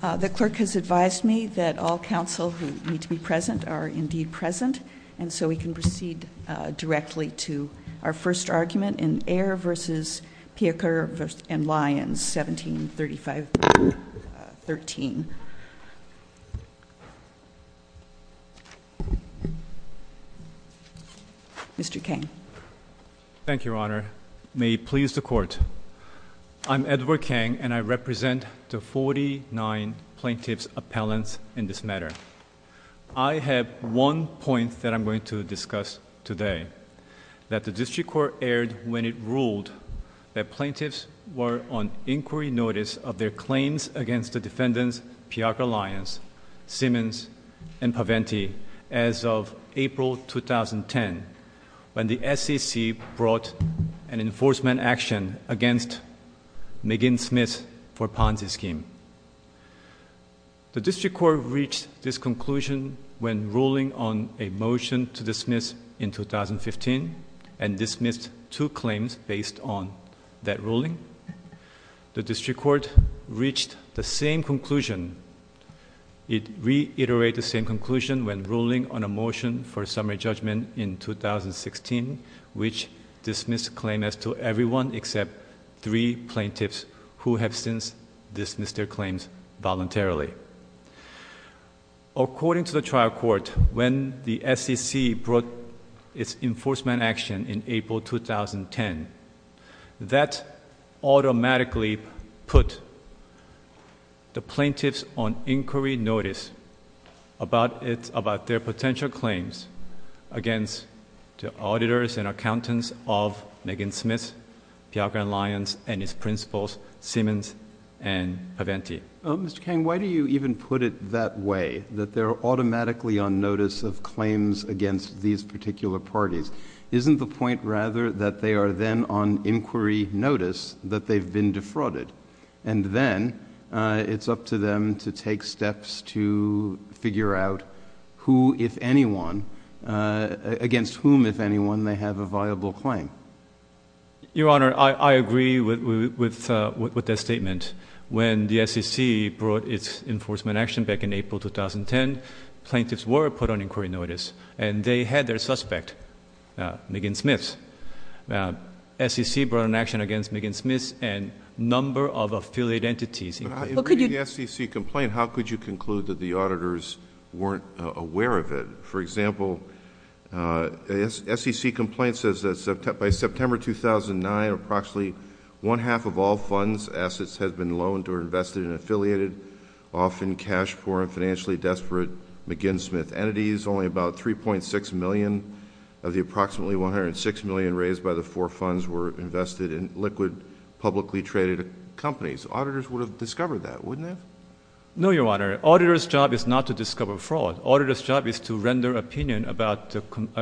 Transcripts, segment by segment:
The Clerk has advised me that all counsel who need to be present are indeed present, and so we can proceed directly to our first argument in Ayer v. Piaker & Lyons, 1735.13. Mr. Kang. Thank you, Your Honor. May it please the Court. I'm Edward Kang, and I represent the 49 plaintiffs' appellants in this matter. I have one point that I'm going to discuss today, that the District Court aired when it ruled that plaintiffs were on inquiry notice of their claims against the defendants Piaker & Lyons, Simmons, and Paventi as of April 2010, when the SEC brought an enforcement action against McGinn Smith for Ponzi scheme. The District Court reached this conclusion when ruling on a motion to dismiss in 2015 and dismissed two claims based on that ruling. The District Court reached the same conclusion. It reiterated the same conclusion when ruling on a motion for a summary judgment in 2016, which dismissed a claim as to everyone except three plaintiffs who have since dismissed their claims voluntarily. According to the trial court, when the SEC brought its enforcement action in April 2010, that automatically put the plaintiffs on inquiry notice about their potential claims against the auditors and accountants of McGinn Smith, Piaker & Lyons, and its principals, Simmons, and Paventi. Mr. Kang, why do you even put it that way, that they're automatically on notice of claims against these particular parties? Isn't the point rather that they are then on inquiry notice that they've been defrauded? And then it's up to them to take steps to figure out who, if anyone, against whom, if anyone, they have a viable claim. Your Honor, I agree with that statement. When the SEC brought its enforcement action back in April 2010, plaintiffs were put on inquiry notice, and they had their suspect, McGinn Smith. The SEC brought an action against McGinn Smith and a number of affiliate entities. How could you- In reading the SEC complaint, how could you conclude that the auditors weren't aware of it? For example, SEC complaint says that by September 2009, approximately one half of all funds, assets, has been loaned or invested and affiliated, often cash poor and financially desperate, McGinn Smith entities. Only about 3.6 million of the approximately 106 million raised by the four funds were invested in liquid publicly traded companies. Auditors would have discovered that, wouldn't they? No, Your Honor. Auditor's job is not to discover fraud. Auditor's job is to render opinion about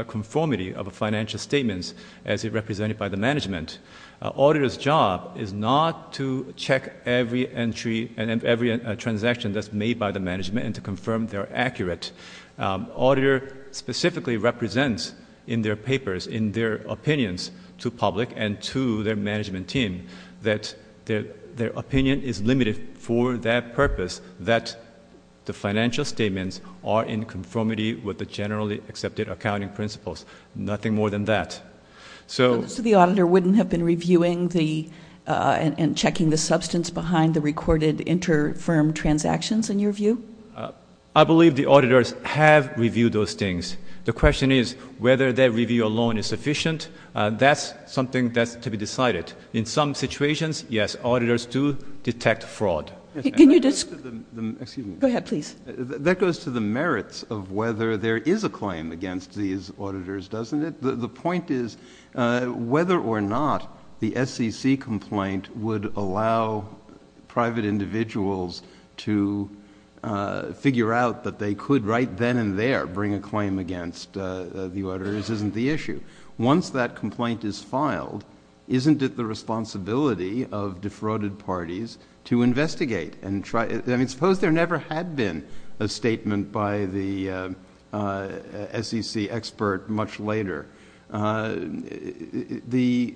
conformity of financial statements as represented by the management. Auditor's job is not to check every entry and every transaction that's made by the management and to confirm they're accurate. Auditor specifically represents in their papers, in their opinions to public and to their management team, that their opinion is limited for that purpose, that the financial statements are in conformity with the generally accepted accounting principles. Nothing more than that. So the auditor wouldn't have been reviewing and checking the substance behind the recorded inter-firm transactions, in your view? I believe the auditors have reviewed those things. The question is whether that review alone is sufficient. That's something that's to be decided. In some situations, yes, auditors do detect fraud. Go ahead, please. That goes to the merits of whether there is a claim against these auditors, doesn't it? The point is whether or not the SEC complaint would allow private individuals to figure out that they could, right then and there, bring a claim against the auditors isn't the issue. Once that complaint is filed, isn't it the responsibility of defrauded parties to investigate? Suppose there never had been a statement by the SEC expert much later. The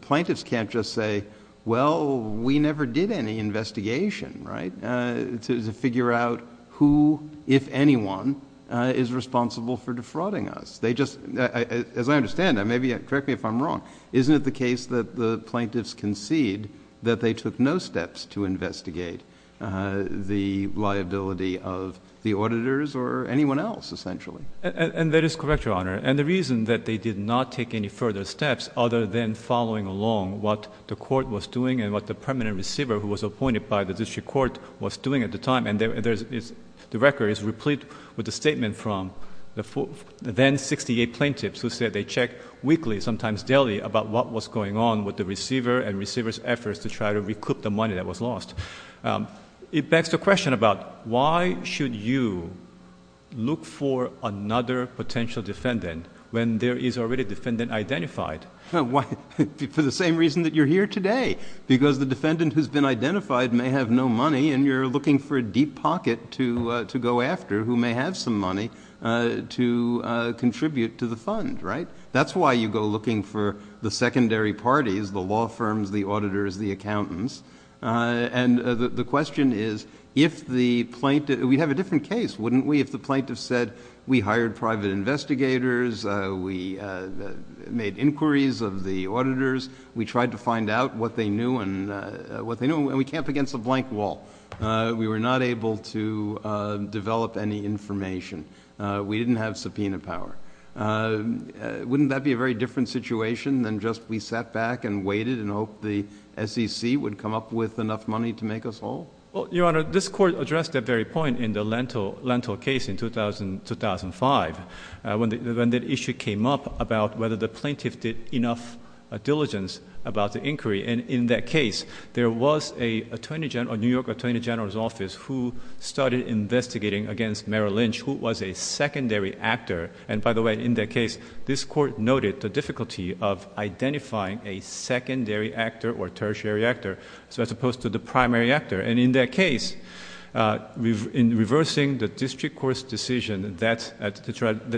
plaintiffs can't just say, well, we never did any investigation to figure out who, if anyone, is responsible for defrauding us. As I understand, correct me if I'm wrong, isn't it the case that the plaintiffs concede that they took no steps to investigate the liability of the auditors or anyone else, essentially? And that is correct, Your Honor. And the reason that they did not take any further steps other than following along what the court was doing and what the permanent receiver who was appointed by the district court was doing at the time, and the record is replete with the statement from the then 68 plaintiffs who said they checked weekly, sometimes daily, about what was going on with the receiver and receiver's efforts to try to recoup the money that was lost. It begs the question about why should you look for another potential defendant when there is already a defendant identified? For the same reason that you're here today, because the defendant who's been identified may have no money and you're looking for a deep pocket to go after who may have some money to contribute to the fund, right? That's why you go looking for the secondary parties, the law firms, the auditors, the accountants. And the question is, if the plaintiff—we'd have a different case, wouldn't we, if the plaintiff said, we hired private investigators, we made inquiries of the auditors, we tried to find out what they knew, and we came up against a blank wall. We were not able to develop any information. We didn't have subpoena power. Wouldn't that be a very different situation than just we sat back and waited and hoped the SEC would come up with enough money to make us whole? Well, Your Honor, this Court addressed that very point in the Lentil case in 2005, when that issue came up about whether the plaintiff did enough diligence about the inquiry. And in that case, there was a New York attorney general's office who started investigating against Merrill Lynch, who was a secondary actor. And by the way, in that case, this Court noted the difficulty of identifying a secondary actor or tertiary actor as opposed to the primary actor. And in that case, in reversing the district court's decision that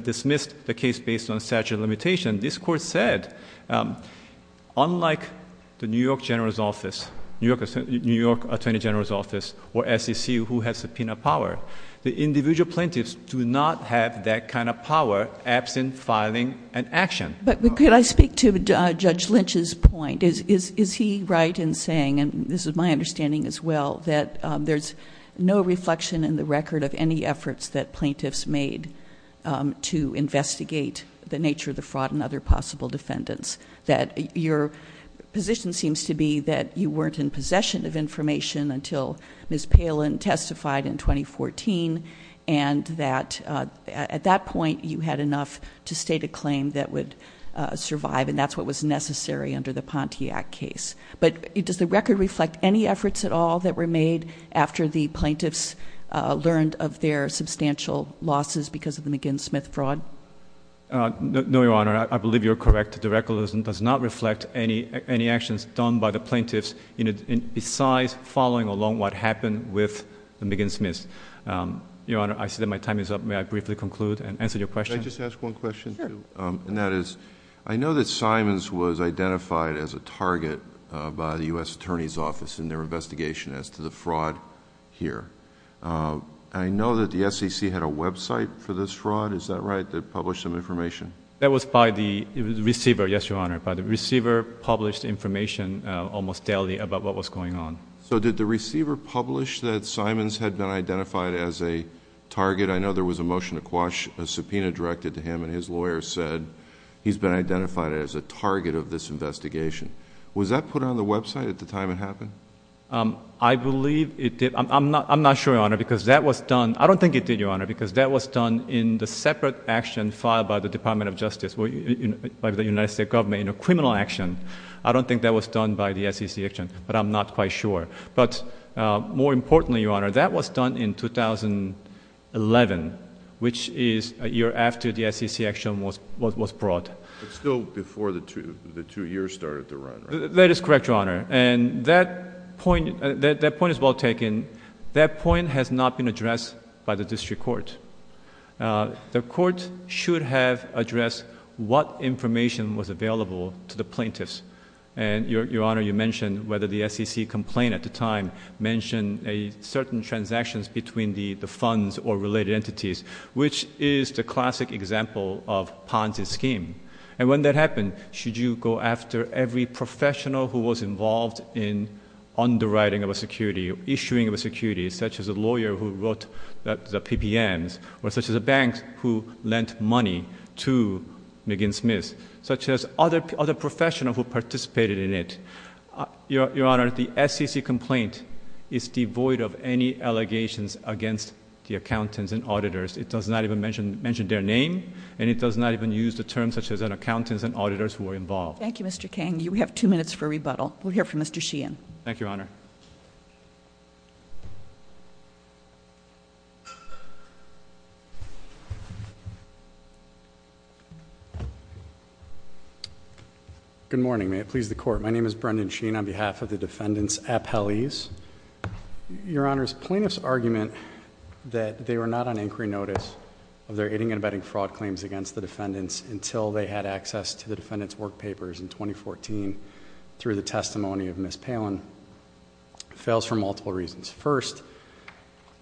dismissed the case based on statute of limitation, this Court said, unlike the New York attorney general's office or SEC who has subpoena power, the individual plaintiffs do not have that kind of power absent filing an action. But could I speak to Judge Lynch's point? Is he right in saying, and this is my understanding as well, that there's no reflection in the record of any efforts that plaintiffs made to investigate the nature of the fraud and other possible defendants? That your position seems to be that you weren't in possession of information until Ms. Palin testified in 2014, and that at that point, you had enough to state a claim that would survive, and that's what was necessary under the Pontiac case. But does the record reflect any efforts at all that were made after the plaintiffs learned of their substantial losses because of the McGinn-Smith fraud? No, Your Honor. I believe you're correct. The record does not reflect any actions done by the plaintiffs besides following along what happened with the McGinn-Smiths. Your Honor, I see that my time is up. May I briefly conclude and answer your question? Can I just ask one question, too? Sure. And that is, I know that Simons was identified as a target by the U.S. Attorney's Office in their investigation as to the fraud here. I know that the SEC had a website for this fraud. Is that right, that published some information? That was by the receiver, yes, Your Honor. The receiver published information almost daily about what was going on. So did the receiver publish that Simons had been identified as a target? I know there was a motion to quash a subpoena directed to him, and his lawyer said he's been identified as a target of this investigation. Was that put on the website at the time it happened? I believe it did. I'm not sure, Your Honor, because that was done. It was done in the separate action filed by the Department of Justice, by the United States government, in a criminal action. I don't think that was done by the SEC action, but I'm not quite sure. But more importantly, Your Honor, that was done in 2011, which is a year after the SEC action was brought. But still before the two years started to run, right? That is correct, Your Honor. And that point is well taken. That point has not been addressed by the district court. The court should have addressed what information was available to the plaintiffs. And, Your Honor, you mentioned whether the SEC complaint at the time mentioned certain transactions between the funds or related entities, which is the classic example of Ponce's scheme. And when that happened, should you go after every professional who was involved in underwriting of a security, issuing of a security, such as a lawyer who wrote the PPMs, or such as a bank who lent money to McGinn Smith, such as other professionals who participated in it? Your Honor, the SEC complaint is devoid of any allegations against the accountants and auditors. It does not even mention their name. And it does not even use the terms such as accountants and auditors who were involved. Thank you, Mr. Kang. We have two minutes for rebuttal. We'll hear from Mr. Sheehan. Thank you, Your Honor. Good morning. May it please the Court. My name is Brendan Sheehan on behalf of the defendants' appellees. Your Honor, plaintiff's argument that they were not on inquiry notice of their aiding and abetting fraud claims against the defendants until they had access to the defendants' work papers in 2014 through the testimony of Ms. Palin fails for multiple reasons. First,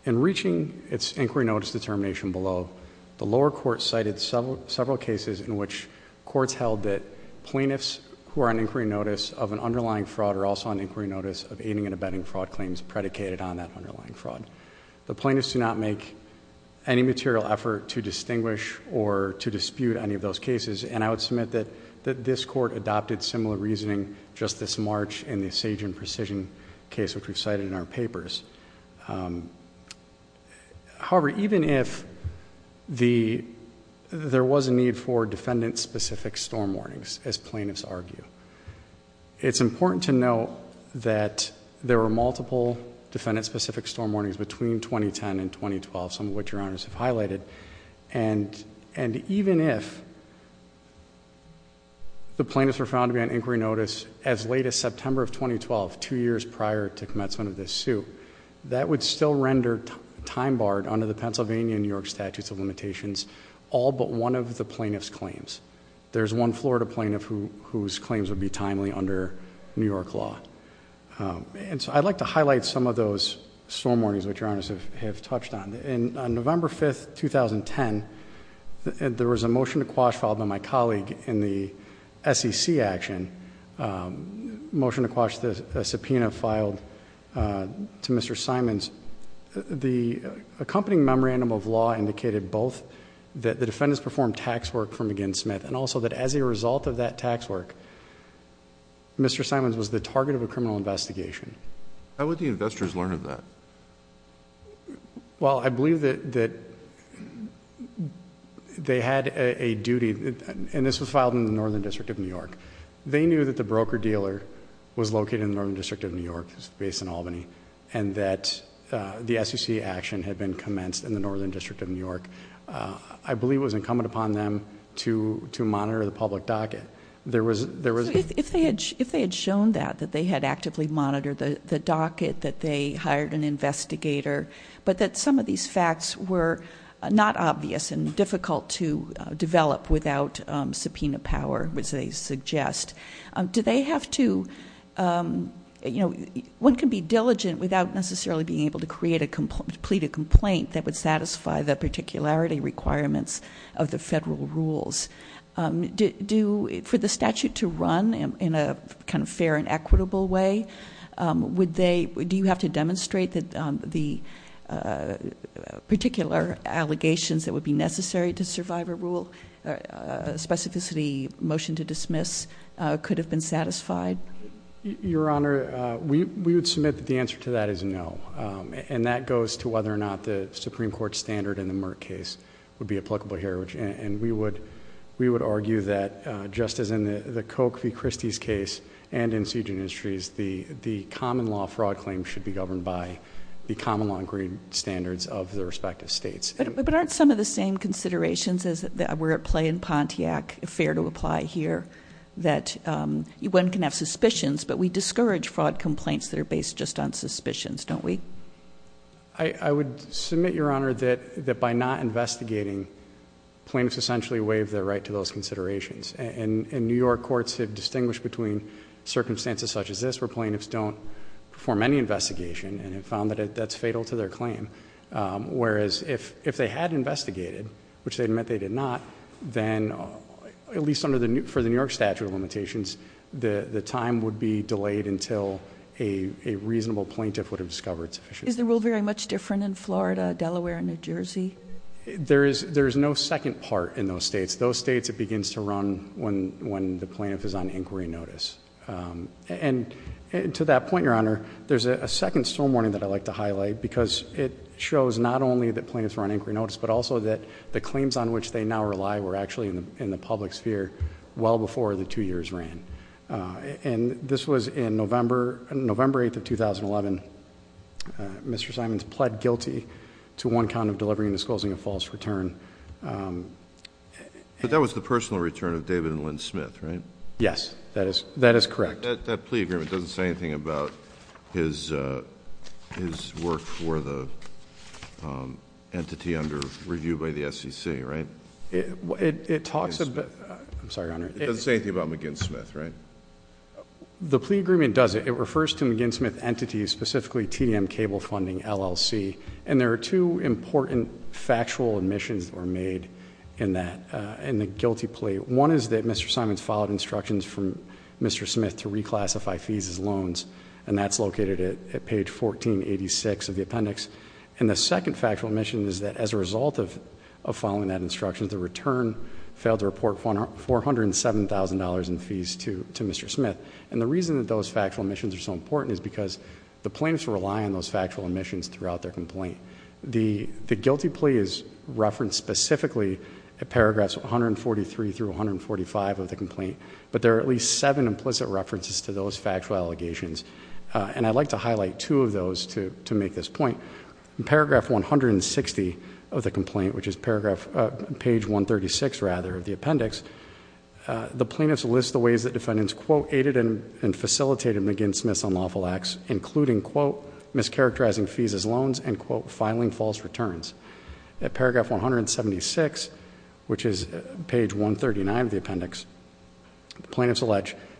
in reaching its inquiry notice determination below, the lower court cited several cases in which courts held that plaintiffs who are on inquiry notice of an underlying fraud are also on inquiry notice of aiding and abetting fraud claims predicated on that underlying fraud. The plaintiffs do not make any material effort to distinguish or to dispute any of those cases, and I would submit that this Court adopted similar reasoning just this March in the Sage and Precision case, which we've cited in our papers. However, even if there was a need for defendant-specific storm warnings, as plaintiffs argue, it's important to note that there were multiple defendant-specific storm warnings between 2010 and 2012, some of which Your Honors have highlighted, and even if the plaintiffs were found to be on inquiry notice as late as September of 2012, two years prior to commencement of this suit, that would still render time barred under the Pennsylvania and New York Statutes of Limitations all but one of the plaintiff's claims. There's one Florida plaintiff whose claims would be timely under New York law. And so I'd like to highlight some of those storm warnings which Your Honors have touched on. On November 5, 2010, there was a motion to quash filed by my colleague in the SEC action, a motion to quash a subpoena filed to Mr. Simons. The accompanying memorandum of law indicated both that the defendants performed tax work for McGinn Smith and also that as a result of that tax work, Mr. Simons was the target of a criminal investigation. How would the investors learn of that? Well, I believe that they had a duty, and this was filed in the Northern District of New York. They knew that the broker dealer was located in the Northern District of New York, which is based in Albany, and that the SEC action had been commenced in the Northern District of New York. I believe it was incumbent upon them to monitor the public docket. There was- If they had shown that, that they had actively monitored the docket, that they hired an investigator, but that some of these facts were not obvious and difficult to develop without subpoena power, as they suggest, do they have to-one can be diligent without necessarily being able to plead a complaint that would satisfy the particularity requirements of the federal rules. For the statute to run in a kind of fair and equitable way, do you have to demonstrate the particular allegations that would be necessary to survive a rule? A specificity motion to dismiss could have been satisfied? Your Honor, we would submit that the answer to that is no, and that goes to whether or not the Supreme Court standard in the Merck case would be applicable here, and we would argue that, just as in the Coke v. Christie's case and in Siege and Industries, the common law fraud claim should be governed by the common law agreed standards of the respective states. But aren't some of the same considerations that were at play in Pontiac fair to apply here, that one can have suspicions, but we discourage fraud complaints that are based just on suspicions, don't we? I would submit, Your Honor, that by not investigating, plaintiffs essentially waive their right to those considerations, and New York courts have distinguished between circumstances such as this, where plaintiffs don't perform any investigation and have found that that's fatal to their claim, whereas if they had investigated, which they admit they did not, then at least for the New York statute of limitations, the time would be delayed until a reasonable plaintiff would have discovered sufficient. Is the rule very much different in Florida, Delaware, and New Jersey? There is no second part in those states. Those states it begins to run when the plaintiff is on inquiry notice. And to that point, Your Honor, there's a second storm warning that I'd like to highlight, because it shows not only that plaintiffs were on inquiry notice, but also that the claims on which they now rely were actually in the public sphere well before the two years ran. And this was in November 8th of 2011. Mr. Simons pled guilty to one count of delivering and disclosing a false return. But that was the personal return of David and Lynn Smith, right? Yes. That is correct. That plea agreement doesn't say anything about his work for the entity under review by the SEC, right? It talks about... I'm sorry, Your Honor. It doesn't say anything about McGinn-Smith, right? The plea agreement does. It refers to McGinn-Smith entities, specifically TDM Cable Funding, LLC. And there are two important factual admissions that were made in that, in the guilty plea. One is that Mr. Simons followed instructions from Mr. Smith to reclassify fees as loans, and that's located at page 1486 of the appendix. And the second factual admission is that as a result of following that instruction, the return failed to report $407,000 in fees to Mr. Smith. And the reason that those factual admissions are so important is because the plaintiffs rely on those factual admissions throughout their complaint. The guilty plea is referenced specifically at paragraphs 143 through 145 of the complaint, but there are at least seven implicit references to those factual allegations. And I'd like to highlight two of those to make this point. In paragraph 160 of the complaint, which is page 136, rather, of the appendix, the plaintiffs allege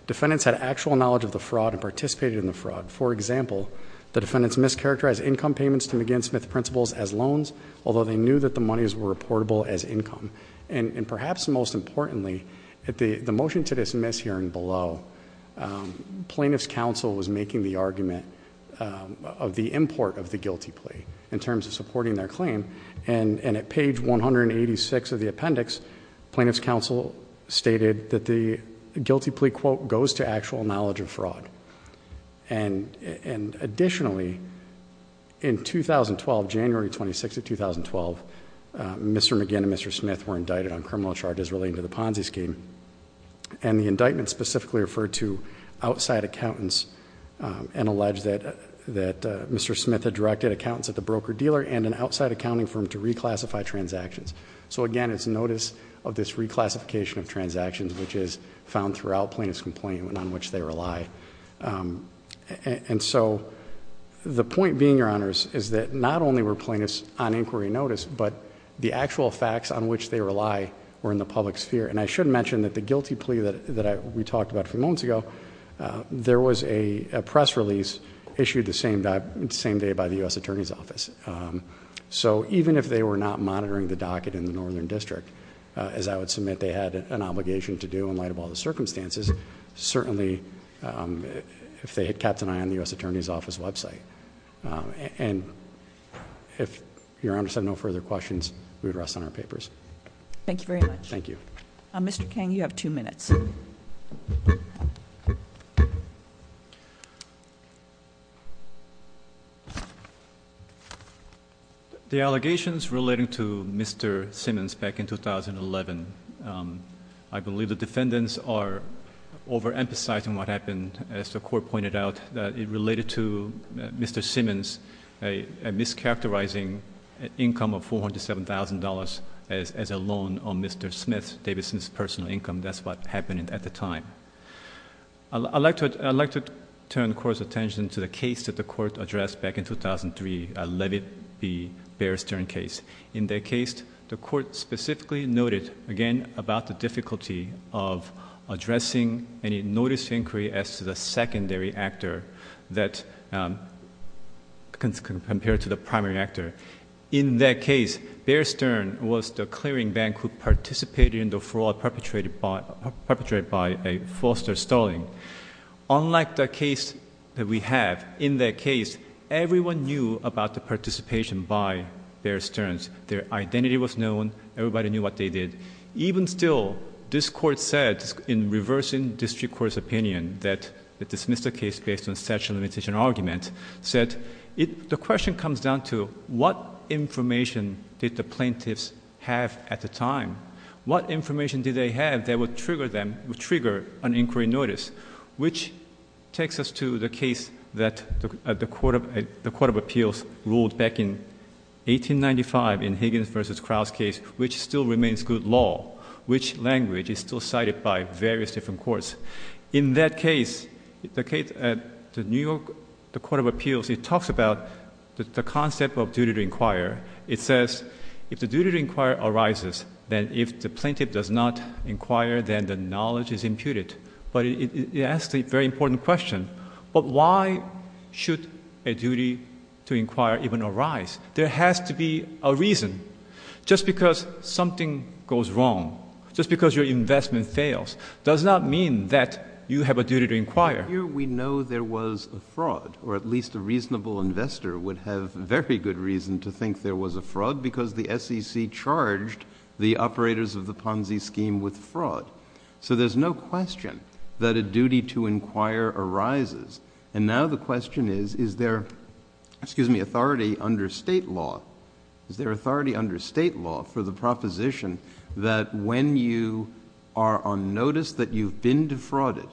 defendants had actual knowledge of the fraud and participated in the fraud. For example, the defendants mischaracterized income payments to McGinn-Smith principals as loans, although they knew that the monies were reportable as income. And perhaps most importantly, at the motion to dismiss hearing below, plaintiffs' counsel was making the argument of the import of the guilty plea in terms of supporting their claim. And at page 186 of the appendix, plaintiffs' counsel stated that the guilty plea, quote, goes to actual knowledge of fraud. And additionally, in 2012, January 26 of 2012, Mr. McGinn and Mr. Smith were indicted on criminal charges relating to the Ponzi scheme. And the indictment specifically referred to outside accountants and alleged that Mr. Smith had directed accountants at the broker-dealer and an outside accounting firm to reclassify transactions. So again, it's notice of this reclassification of transactions, which is found throughout plaintiff's complaint and on which they rely. And so the point being, Your Honors, is that not only were plaintiffs on inquiry notice, but the actual facts on which they rely were in the public sphere. And I should mention that the guilty plea that we talked about a few moments ago, there was a press release issued the same day by the U.S. Attorney's Office. So even if they were not monitoring the docket in the Northern District, as I would submit they had an obligation to do in light of all the circumstances, certainly if they had kept an eye on the U.S. Attorney's Office website. And if Your Honors have no further questions, we would rest on our papers. Thank you very much. Thank you. Mr. Kang, you have two minutes. The allegations relating to Mr. Simmons back in 2011, I believe the defendants are overemphasizing what happened, as the Court pointed out, that it related to Mr. Simmons mischaracterizing an income of $407,000 as a loan on Mr. Smith, David Smith's personal income. That's what happened at the time. I'd like to turn the Court's attention to the case that the Court addressed back in 2003, Levitt v. Bear Stearns case. In that case, the Court specifically noted, again, about the difficulty of addressing any notice of inquiry as to the secondary actor compared to the primary actor. In that case, Bear Stearns was the clearing bank who participated in the fraud perpetrated by Foster Sterling. Unlike the case that we have, in that case, everyone knew about the participation by Bear Stearns. Their identity was known. Everybody knew what they did. Even still, this Court said, in reversing district court's opinion, that it dismissed the case based on such a limitation argument, said, the question comes down to what information did the plaintiffs have at the time? What information did they have that would trigger an inquiry notice? Which takes us to the case that the Court of Appeals ruled back in 1895, in Higgins v. Krauss case, which still remains good law, which language is still cited by various different courts. In that case, the New York Court of Appeals, it talks about the concept of duty to inquire. It says, if the duty to inquire arises, then if the plaintiff does not inquire, then the knowledge is imputed. But it asks a very important question. But why should a duty to inquire even arise? There has to be a reason. Just because something goes wrong, just because your investment fails, does not mean that you have a duty to inquire. Here we know there was a fraud, or at least a reasonable investor would have very good reason to think there was a fraud, because the SEC charged the operators of the Ponzi scheme with fraud. So there's no question that a duty to inquire arises. And now the question is, is there authority under state law for the proposition that when you are on notice that you've been defrauded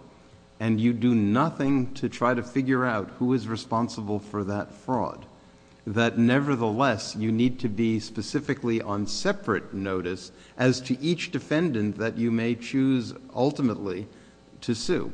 and you do nothing to try to figure out who is responsible for that fraud, that nevertheless you need to be specifically on separate notice as to each defendant that you may choose ultimately to sue?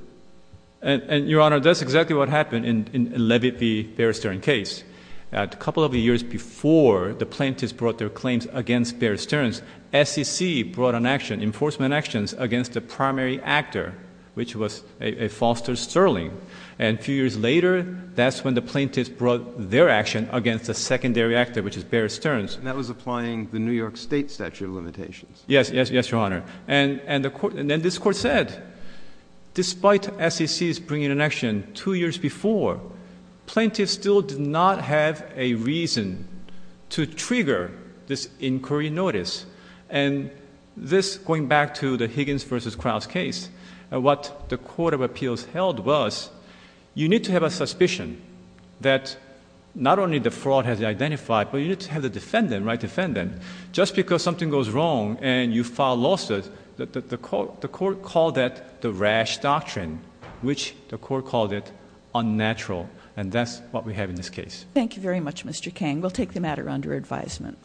And, Your Honor, that's exactly what happened in Levitt v. Bear Stearns case. A couple of years before the plaintiffs brought their claims against Bear Stearns, SEC brought an action, enforcement actions, against the primary actor, which was Foster Sterling. And a few years later, that's when the plaintiffs brought their action against the secondary actor, which is Bear Stearns. And that was applying the New York State statute of limitations. Yes, Your Honor. And then this court said, despite SEC's bringing an action two years before, plaintiffs still did not have a reason to trigger this inquiry notice. And this, going back to the Higgins v. Krause case, what the court of appeals held was you need to have a suspicion that not only the fraud has been identified, but you need to have the defendant, right defendant, just because something goes wrong and you file lawsuits, the court called that the rash doctrine, which the court called it unnatural. And that's what we have in this case. Thank you very much, Mr. Kang. We'll take the matter under advisement.